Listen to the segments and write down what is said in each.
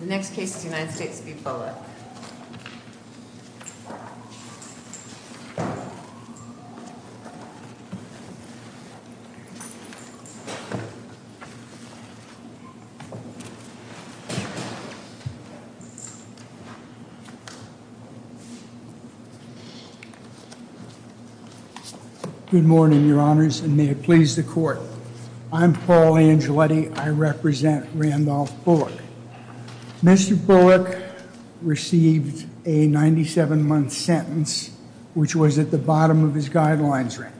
The next case is the United States v. Bullock. Good morning, your honors, and may it please the court. I'm Paul Angeletti. I represent Randolph Bullock. Mr. Bullock received a 97-month sentence, which was at the bottom of his guidelines range.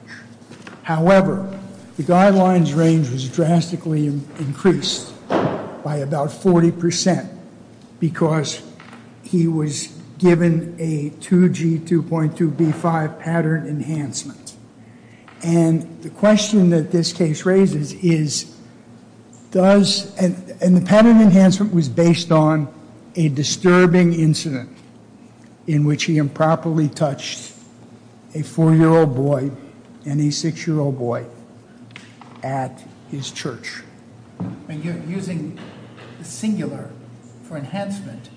However, the guidelines range was drastically increased by about 40% because he was given a 2G 2.2B5 pattern enhancement. And the question that this case raises is, does, and the pattern enhancement was based on a disturbing incident in which he improperly touched a four-year-old boy and a six-year-old boy at his church. You're using the singular for enhancement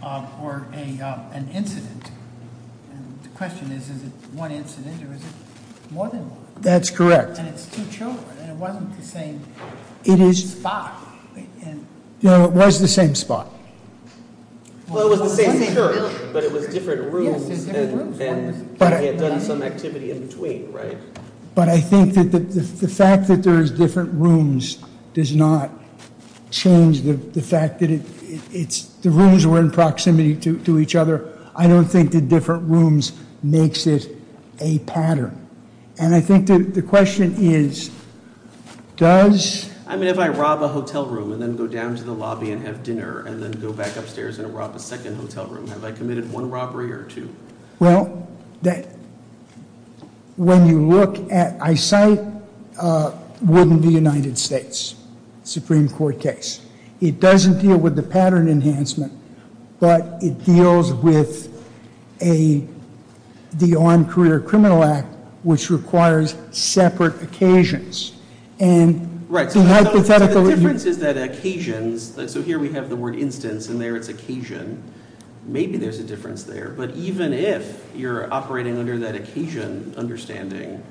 for an incident. And the question is, is it one incident or is it more than one? That's correct. And it's two children, and it wasn't the same spot. No, it was the same spot. Well, it was the same church, but it was different rooms, and he had done some activity in between, right? But I think that the fact that there is different rooms does not change the fact that the rooms were in proximity to each other. I don't think the different rooms makes it a pattern. And I think the question is, does? I mean, if I rob a hotel room and then go down to the lobby and have dinner and then go back upstairs and rob a second hotel room, have I committed one robbery or two? Well, when you look at, I cite Wooden v. United States, Supreme Court case. It doesn't deal with the pattern enhancement, but it deals with the Armed Career Criminal Act, which requires separate occasions. And the hypothetical review. Right, so the difference is that occasions, so here we have the word instance, and there it's occasion. Maybe there's a difference there. But even if you're operating under that occasion understanding,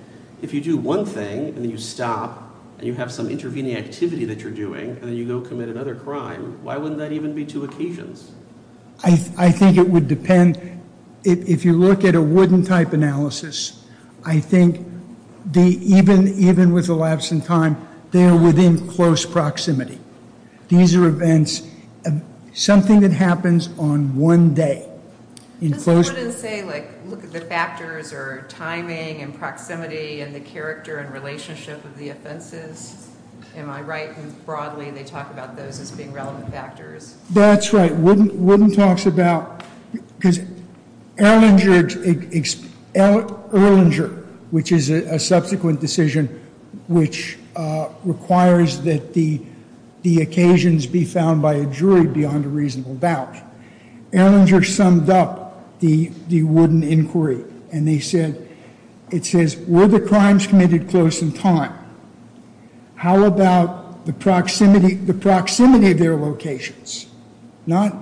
if you do one thing, and then you stop, and you have some intervening activity that you're doing, and then you go commit another crime, why wouldn't that even be two occasions? I think it would depend. If you look at a Wooden-type analysis, I think even with the lapse in time, they are within close proximity. These are events, something that happens on one day. In close proximity. I just wanted to say, look at the factors, or timing, and proximity, and the character and relationship of the offenses. Am I right in broadly, they talk about those as being relevant factors? That's right. Wooden talks about, because Erlinger, which is a subsequent decision, which requires that the occasions be found by a jury beyond a reasonable doubt. Erlinger summed up the Wooden inquiry. And they said, it says, were the crimes committed close in time? How about the proximity of their locations? Not,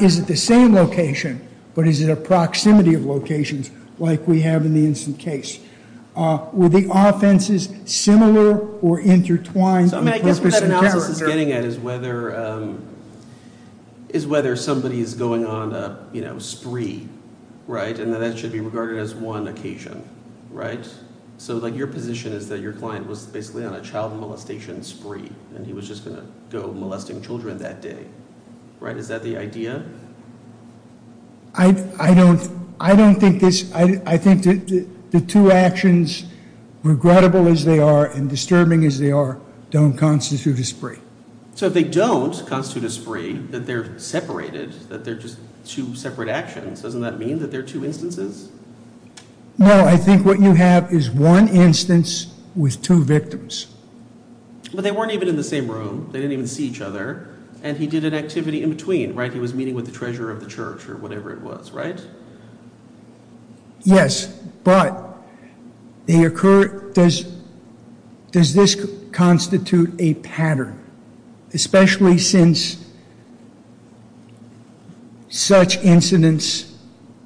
is it the same location, but is it a proximity of locations, like we have in the instant case? Were the offenses similar or intertwined? I guess what that analysis is getting at is whether somebody is going on a spree, and that that should be regarded as one occasion. Right? So your position is that your client was basically on a child molestation spree, and he was just going to go molesting children that day. Is that the idea? I don't think this, I think the two actions, regrettable as they are, and disturbing as they are, don't constitute a spree. So if they don't constitute a spree, that they're separated, that they're just two separate actions, doesn't that mean that they're two instances? No. I think what you have is one instance with two victims. But they weren't even in the same room. They didn't even see each other. And he did an activity in between, right? He was meeting with the treasurer of the church, or whatever it was, right? Yes, but they occur, does this constitute a pattern? Especially since such incidents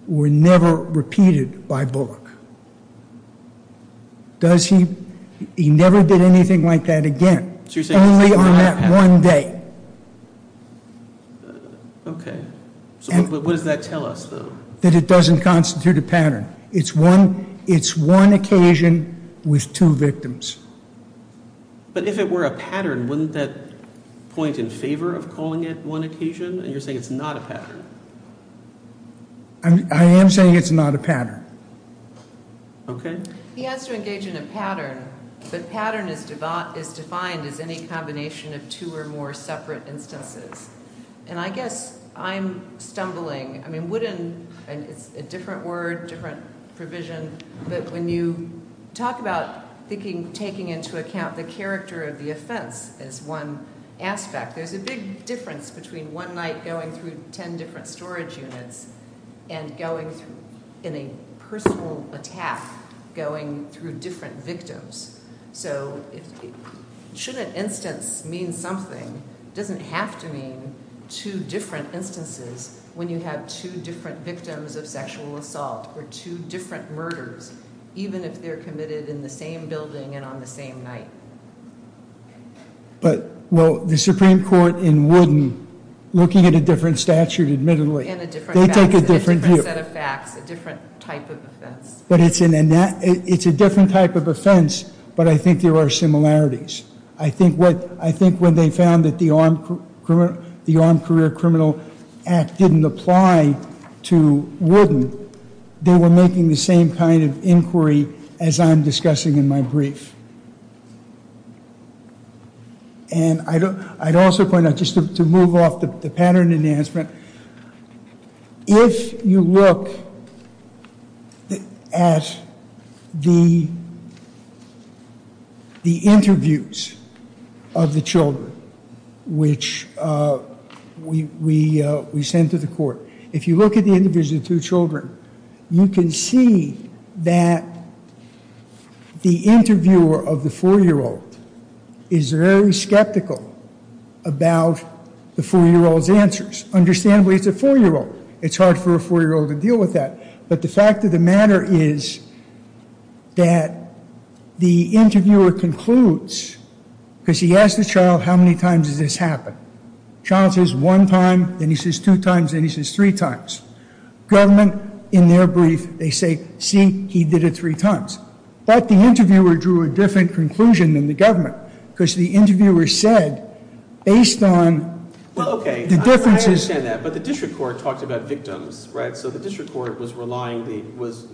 were never repeated by Bullock. Does he, he never did anything like that again. So you're saying it's not a pattern. Only on that one day. OK. So what does that tell us, though? That it doesn't constitute a pattern. It's one occasion with two victims. But if it were a pattern, wouldn't that point in favor of calling it one occasion? And you're saying it's not a pattern. I am saying it's not a pattern. OK. He has to engage in a pattern, but pattern is defined as any combination of two or more separate instances. And I guess I'm stumbling. I mean, wouldn't, and it's a different word, different provision, but when you talk about taking into account the character of the offense as one aspect, there's a big difference between one night going through 10 different storage units and going through, in a personal attack, going through different victims. So should an instance mean something? Doesn't have to mean two different instances when you have two different victims of sexual assault or two different murders, even if they're committed in the same building and on the same night? But, well, the Supreme Court in Wooden, looking at a different statute, admittedly, they take a different view. A different set of facts, a different type of offense. But it's a different type of offense, but I think there are similarities. I think when they found that the Armed Career Criminal Act didn't apply to Wooden, they were making the same kind of inquiry as I'm discussing in my brief. And I'd also point out, just to move off the pattern enhancement, if you look at the interviews of the children which we sent to the court, if you look at the interviews of two children, you can see that the interviewer of the four-year-old is very skeptical about the four-year-old's answers. Understandably, it's a four-year-old. It's hard for a four-year-old to deal with that. But the fact of the matter is that the interviewer concludes, because he asked the child, how many times has this happened? Child says one time, then he says two times, then he says three times. Government, in their brief, they say, see, he did it three times. But the interviewer drew a different conclusion than the government, because the interviewer said, based on the differences. But the district court talked about victims, right? So the district court was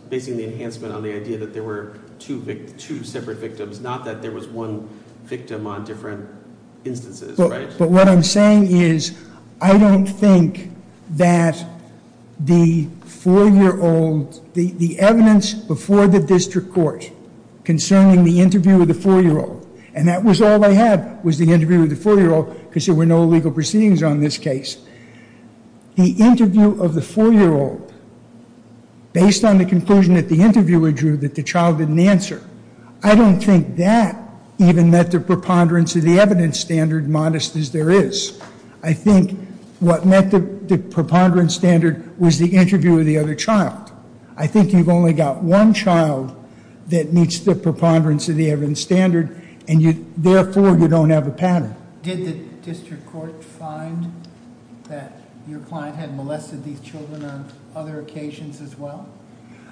basing the enhancement on the idea that there were two separate victims, not that there was one victim on different instances, right? But what I'm saying is, I don't think that the four-year-old, the evidence before the district court concerning the interview of the four-year-old, and that was all I had, was the interview of the four-year-old, because there were no legal proceedings on this case. The interview of the four-year-old, based on the conclusion that the interviewer drew that the child didn't answer, I don't think that, even that the preponderance of the evidence standard, modest as there is, I think what met the preponderance standard was the interview of the other child. I think you've only got one child that meets the preponderance of the evidence standard, and therefore, you don't have a pattern. Did the district court find that your client had molested these children on other occasions as well?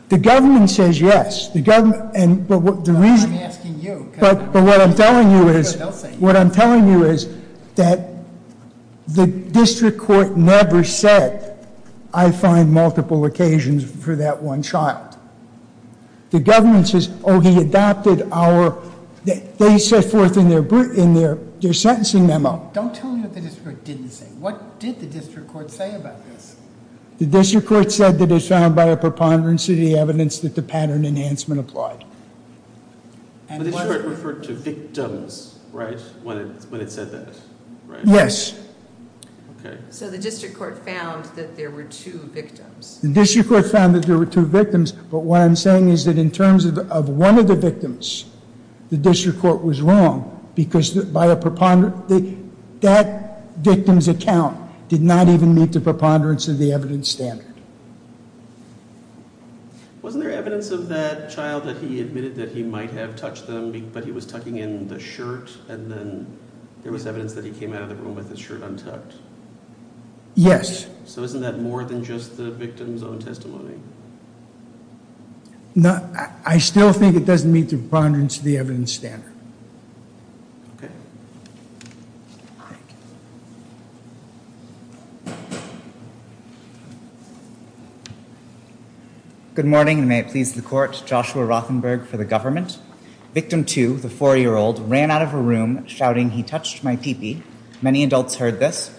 The government says yes. The government, and the reason. I'm asking you. But what I'm telling you is, what I'm telling you is that the district court never said, I find multiple occasions for that one child. The government says, oh, he adopted our, they set forth in their sentencing memo. Don't tell me what the district court didn't say. What did the district court say about this? The district court said that it was found by a preponderance of the evidence that the pattern enhancement applied. But the district court referred to victims, right? When it said that, right? Yes. So the district court found that there were two victims. The district court found that there were two victims, but what I'm saying is that in terms of one of the victims, the district court was wrong, because by a preponderance, that victim's account did not even meet the preponderance of the evidence standard. Wasn't there evidence of that child that he admitted that he might have touched them, but he was tucking in the shirt, and then there was evidence that he came out of the room with his shirt untucked? Yes. So isn't that more than just the victim's own testimony? No, I still think it doesn't meet the preponderance of the evidence standard. Okay. Good morning, and may it please the court. Joshua Rothenberg for the government. Victim two, the four-year-old, ran out of a room shouting, he touched my pee-pee. Many adults heard this.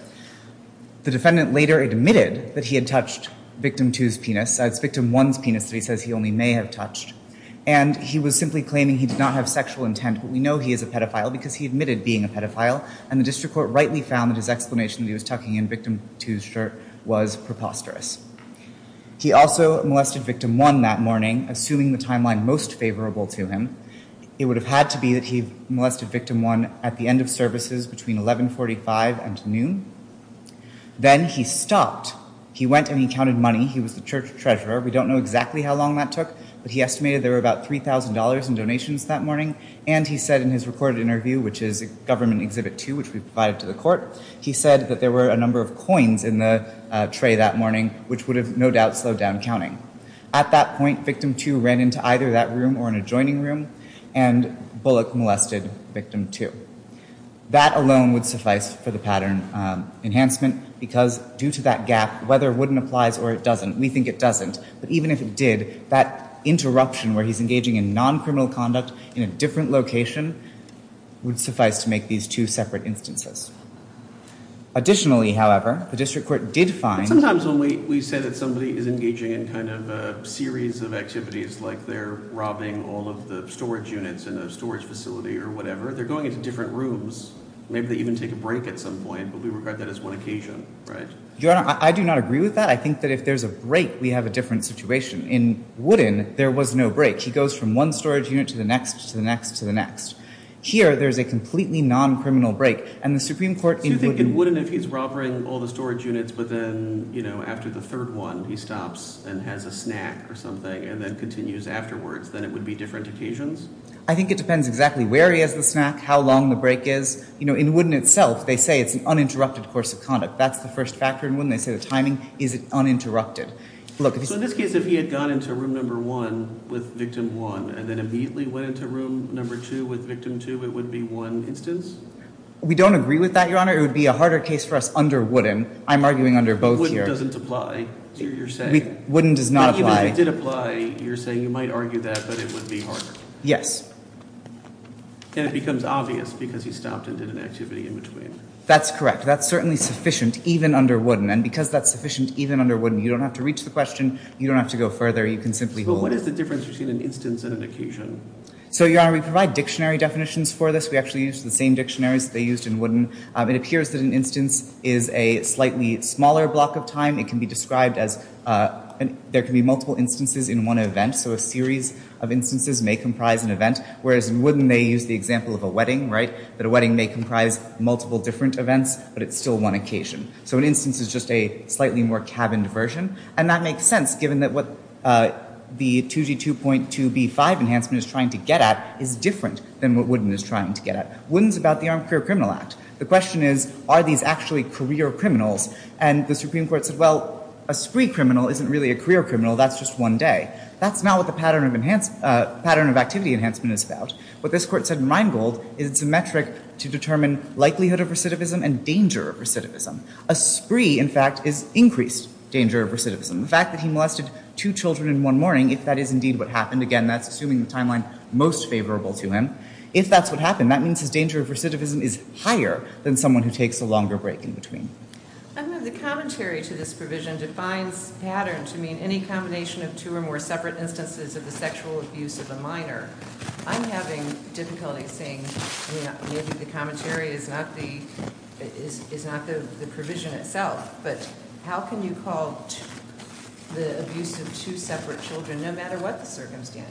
The defendant later admitted that he had touched victim two's penis. That's victim one's penis that he says he only may have touched. And he was simply claiming he did not have sexual intent, but we know he is a pedophile because he admitted being a pedophile, and the district court rightly found that his explanation that he was tucking in victim two's shirt was preposterous. He also molested victim one that morning, assuming the timeline most favorable to him. It would have had to be that he molested victim one at the end of services between 11.45 and noon. Then he stopped. He went and he counted money. He was the church treasurer. We don't know exactly how long that took, but he estimated there were about $3,000 in donations that morning. And he said in his recorded interview, which is government exhibit two, which we provided to the court, he said that there were a number of coins in the tray that morning, which would have no doubt slowed down counting. At that point, victim two ran into either that room or an adjoining room, and Bullock molested victim two. That alone would suffice for the pattern enhancement because due to that gap, whether it wouldn't applies or it doesn't, we think it doesn't, but even if it did, that interruption where he's engaging in non-criminal conduct in a different location would suffice to make these two separate instances. Additionally, however, the district court did find- in a series of activities, like they're robbing all of the storage units in a storage facility or whatever, they're going into different rooms. Maybe they even take a break at some point, but we regard that as one occasion, right? I do not agree with that. I think that if there's a break, we have a different situation. In Woodin, there was no break. He goes from one storage unit to the next, to the next, to the next. Here, there's a completely non-criminal break, and the Supreme Court- So you think in Woodin, if he's robbering all the storage units, but then after the third one, he stops and has a snack or something, and then continues afterwards, then it would be different occasions? I think it depends exactly where he has the snack, how long the break is. You know, in Woodin itself, they say it's an uninterrupted course of conduct. That's the first factor in Woodin. They say the timing is uninterrupted. Look- So in this case, if he had gone into room number one with victim one, and then immediately went into room number two with victim two, it would be one instance? We don't agree with that, Your Honor. It would be a harder case for us under Woodin. I'm arguing under both here. Woodin doesn't apply to your saying. Woodin does not apply. Even if it did apply, you're saying you might argue that, but it would be harder. Yes. And it becomes obvious, because he stopped and did an activity in between. That's correct. That's certainly sufficient, even under Woodin. And because that's sufficient, even under Woodin, you don't have to reach the question. You don't have to go further. You can simply hold- But what is the difference between an instance and an occasion? So, Your Honor, we provide dictionary definitions for this. We actually use the same dictionaries that they used in Woodin. It appears that an instance is a slightly smaller block of time. It can be described as, there can be multiple instances in one event. So a series of instances may comprise an event. Whereas in Woodin, they use the example of a wedding, right? That a wedding may comprise multiple different events, but it's still one occasion. So an instance is just a slightly more cabined version. And that makes sense, given that what the 2G2.2B5 enhancement is trying to get at is different than what Woodin is trying to get at. Woodin's about the Armed Career Criminal Act. The question is, are these actually career criminals? And the Supreme Court said, well, a spree criminal isn't really a career criminal. That's just one day. That's not what the pattern of activity enhancement is about. What this court said in Rheingold is it's a metric to determine likelihood of recidivism and danger of recidivism. A spree, in fact, is increased danger of recidivism. The fact that he molested two children in one morning, if that is indeed what happened, again, that's assuming the timeline most favorable to him. If that's what happened, then that means his danger of recidivism is higher than someone who takes a longer break in between. I know the commentary to this provision defines pattern to mean any combination of two or more separate instances of the sexual abuse of a minor. I'm having difficulty seeing, maybe the commentary is not the provision itself, but how can you call the abuse of two separate children no matter what the circumstance?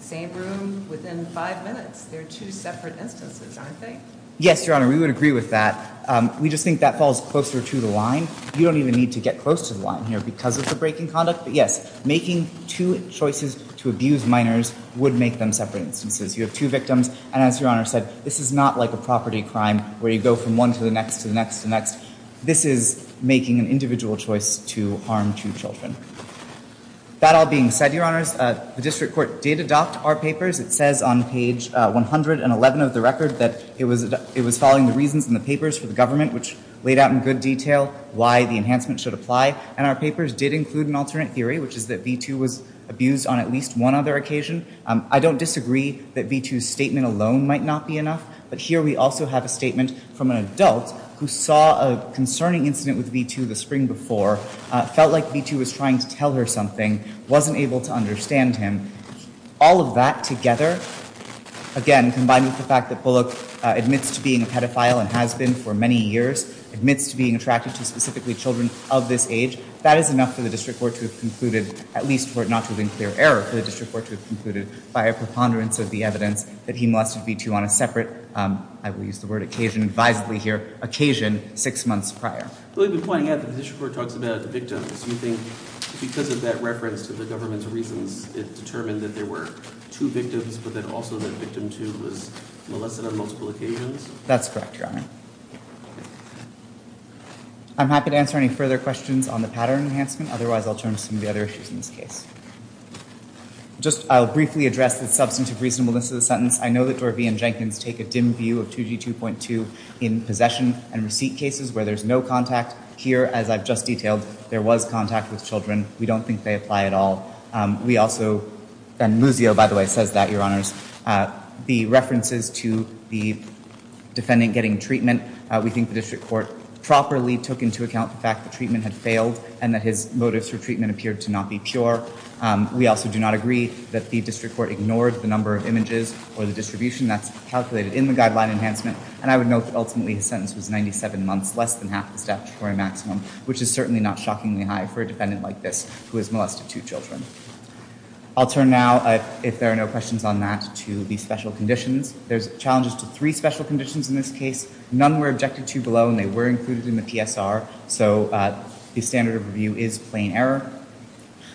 Same room within five minutes, they're two separate instances, aren't they? Yes, Your Honor, we would agree with that. We just think that falls closer to the line. You don't even need to get close to the line here because of the breaking conduct, but yes, making two choices to abuse minors would make them separate instances. You have two victims, and as Your Honor said, this is not like a property crime where you go from one to the next, to the next, to the next. This is making an individual choice to harm two children. That all being said, Your Honors, the district court did adopt our papers. It says on page 111 of the record that it was following the reasons in the papers for the government, which laid out in good detail why the enhancement should apply, and our papers did include an alternate theory, which is that V2 was abused on at least one other occasion. I don't disagree that V2's statement alone might not be enough, but here we also have a statement from an adult who saw a concerning incident with V2 the spring before, felt like V2 was trying to tell her something, wasn't able to understand him. All of that together, again, combined with the fact that Bullock admits to being a pedophile and has been for many years, admits to being attracted to specifically children of this age, that is enough for the district court to have concluded, at least for it not to have been clear error for the district court to have concluded by a preponderance of the evidence that he molested V2 on a separate, I will use the word occasion advisedly here, occasion six months prior. Well, you've been pointing out that the district court talks about the victims. Do you think because of that reference to the government's reasons, it determined that there were two victims, but then also that victim two was molested on multiple occasions? That's correct, Your Honor. I'm happy to answer any further questions on the pattern enhancement, otherwise I'll turn to some of the other issues in this case. Just, I'll briefly address the substantive reasonableness of the sentence. I know that Dorvey and Jenkins take a dim view of 2G2.2 in possession and receipt cases where there's no contact. Here, as I've just detailed, there was contact with children. We don't think they apply at all. We also, and Muzio, by the way, says that, Your Honors. The references to the defendant getting treatment, we think the district court properly took into account the fact that treatment had failed and that his motives for treatment appeared to not be pure. We also do not agree that the district court ignored the number of images or the distribution that's calculated in the guideline enhancement. And I would note that ultimately his sentence was 97 months, less than half the statutory maximum, which is certainly not shockingly high for a defendant like this who has molested two children. I'll turn now, if there are no questions on that, to the special conditions. There's challenges to three special conditions in this case. None were objected to below and they were included in the PSR, so the standard of review is plain error.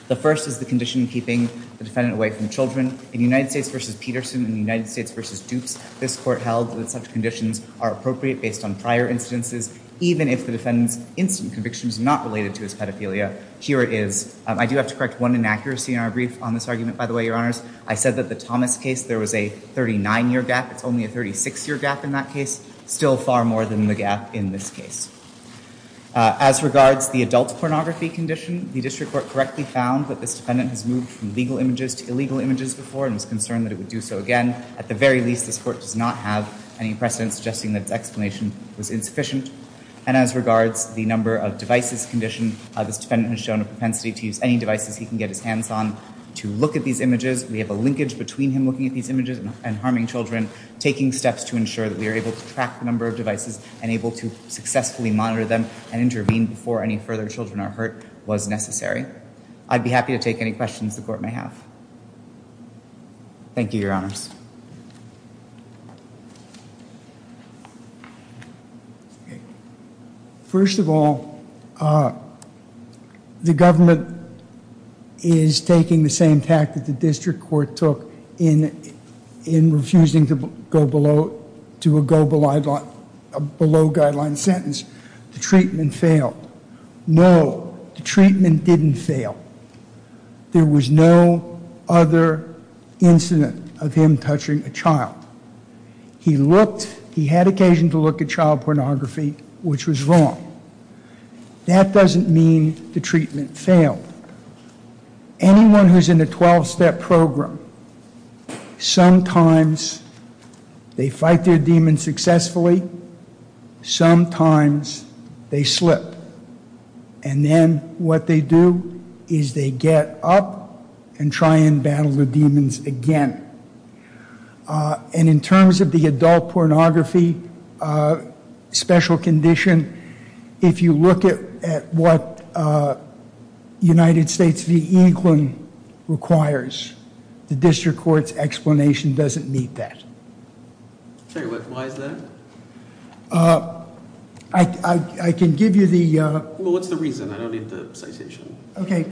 The first is the condition keeping the defendant away from children. In United States v. Peterson and United States v. Dukes, this court held that such conditions are appropriate based on prior instances, even if the defendant's instant conviction is not related to his pedophilia. Here it is. I do have to correct one inaccuracy in our brief on this argument, by the way, your honors. I said that the Thomas case, there was a 39-year gap. It's only a 36-year gap in that case. Still far more than the gap in this case. As regards the adult pornography condition, the district court correctly found that this defendant has moved from legal images to illegal images before and was concerned that it would do so again. At the very least, this court does not have any precedent suggesting that its explanation was insufficient. And as regards the number of devices condition, this defendant has shown a propensity to use any devices he can get his hands on to look at these images. We have a linkage between him looking at these images and harming children, taking steps to ensure that we are able to track the number of devices and able to successfully monitor them and intervene before any further children are hurt was necessary. I'd be happy to take any questions the court may have. Thank you, your honors. First of all, the government is taking the same tact that the district court took in refusing to go below, to a go below guideline sentence. The treatment failed. No, the treatment didn't fail. There was no other incident of him touching a child. He looked, he had occasion to look at child pornography, which was wrong. That doesn't mean the treatment failed. Anyone who's in a 12-step program, sometimes they fight their demons successfully, sometimes they slip. And then what they do is they get up and try and battle the demons again. And in terms of the adult pornography special condition, if you look at what United States v. Eaglin requires, the district court's explanation doesn't meet that. Sorry, what, why is that? I can give you the- Well, what's the reason? I don't need the citation. Okay.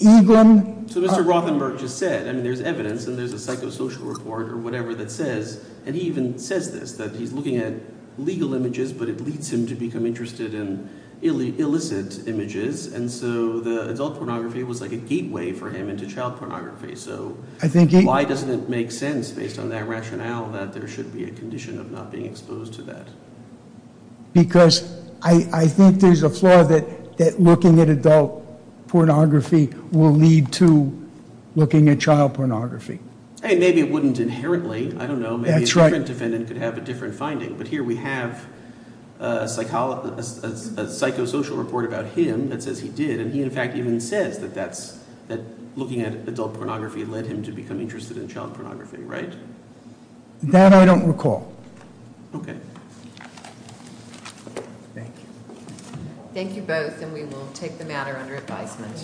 Eaglin- So Mr. Rothenberg just said, I mean, there's evidence and there's a psychosocial report or whatever that says, and he even says this, that he's looking at legal images, but it leads him to become interested in illicit images. And so the adult pornography was like a gateway for him into child pornography. So why doesn't it make sense based on that rationale that there should be a condition of not being exposed to that? Because I think there's a flaw that looking at adult pornography will lead to looking at child pornography. I mean, maybe it wouldn't inherently. I don't know. Maybe a different defendant could have a different finding, but here we have a psychosocial report about him that says he did. And he, in fact, even says that that's, that looking at adult pornography led him to become interested in child pornography, right? That I don't recall. Okay. Thank you. Thank you both, and we will take the matter under advisement.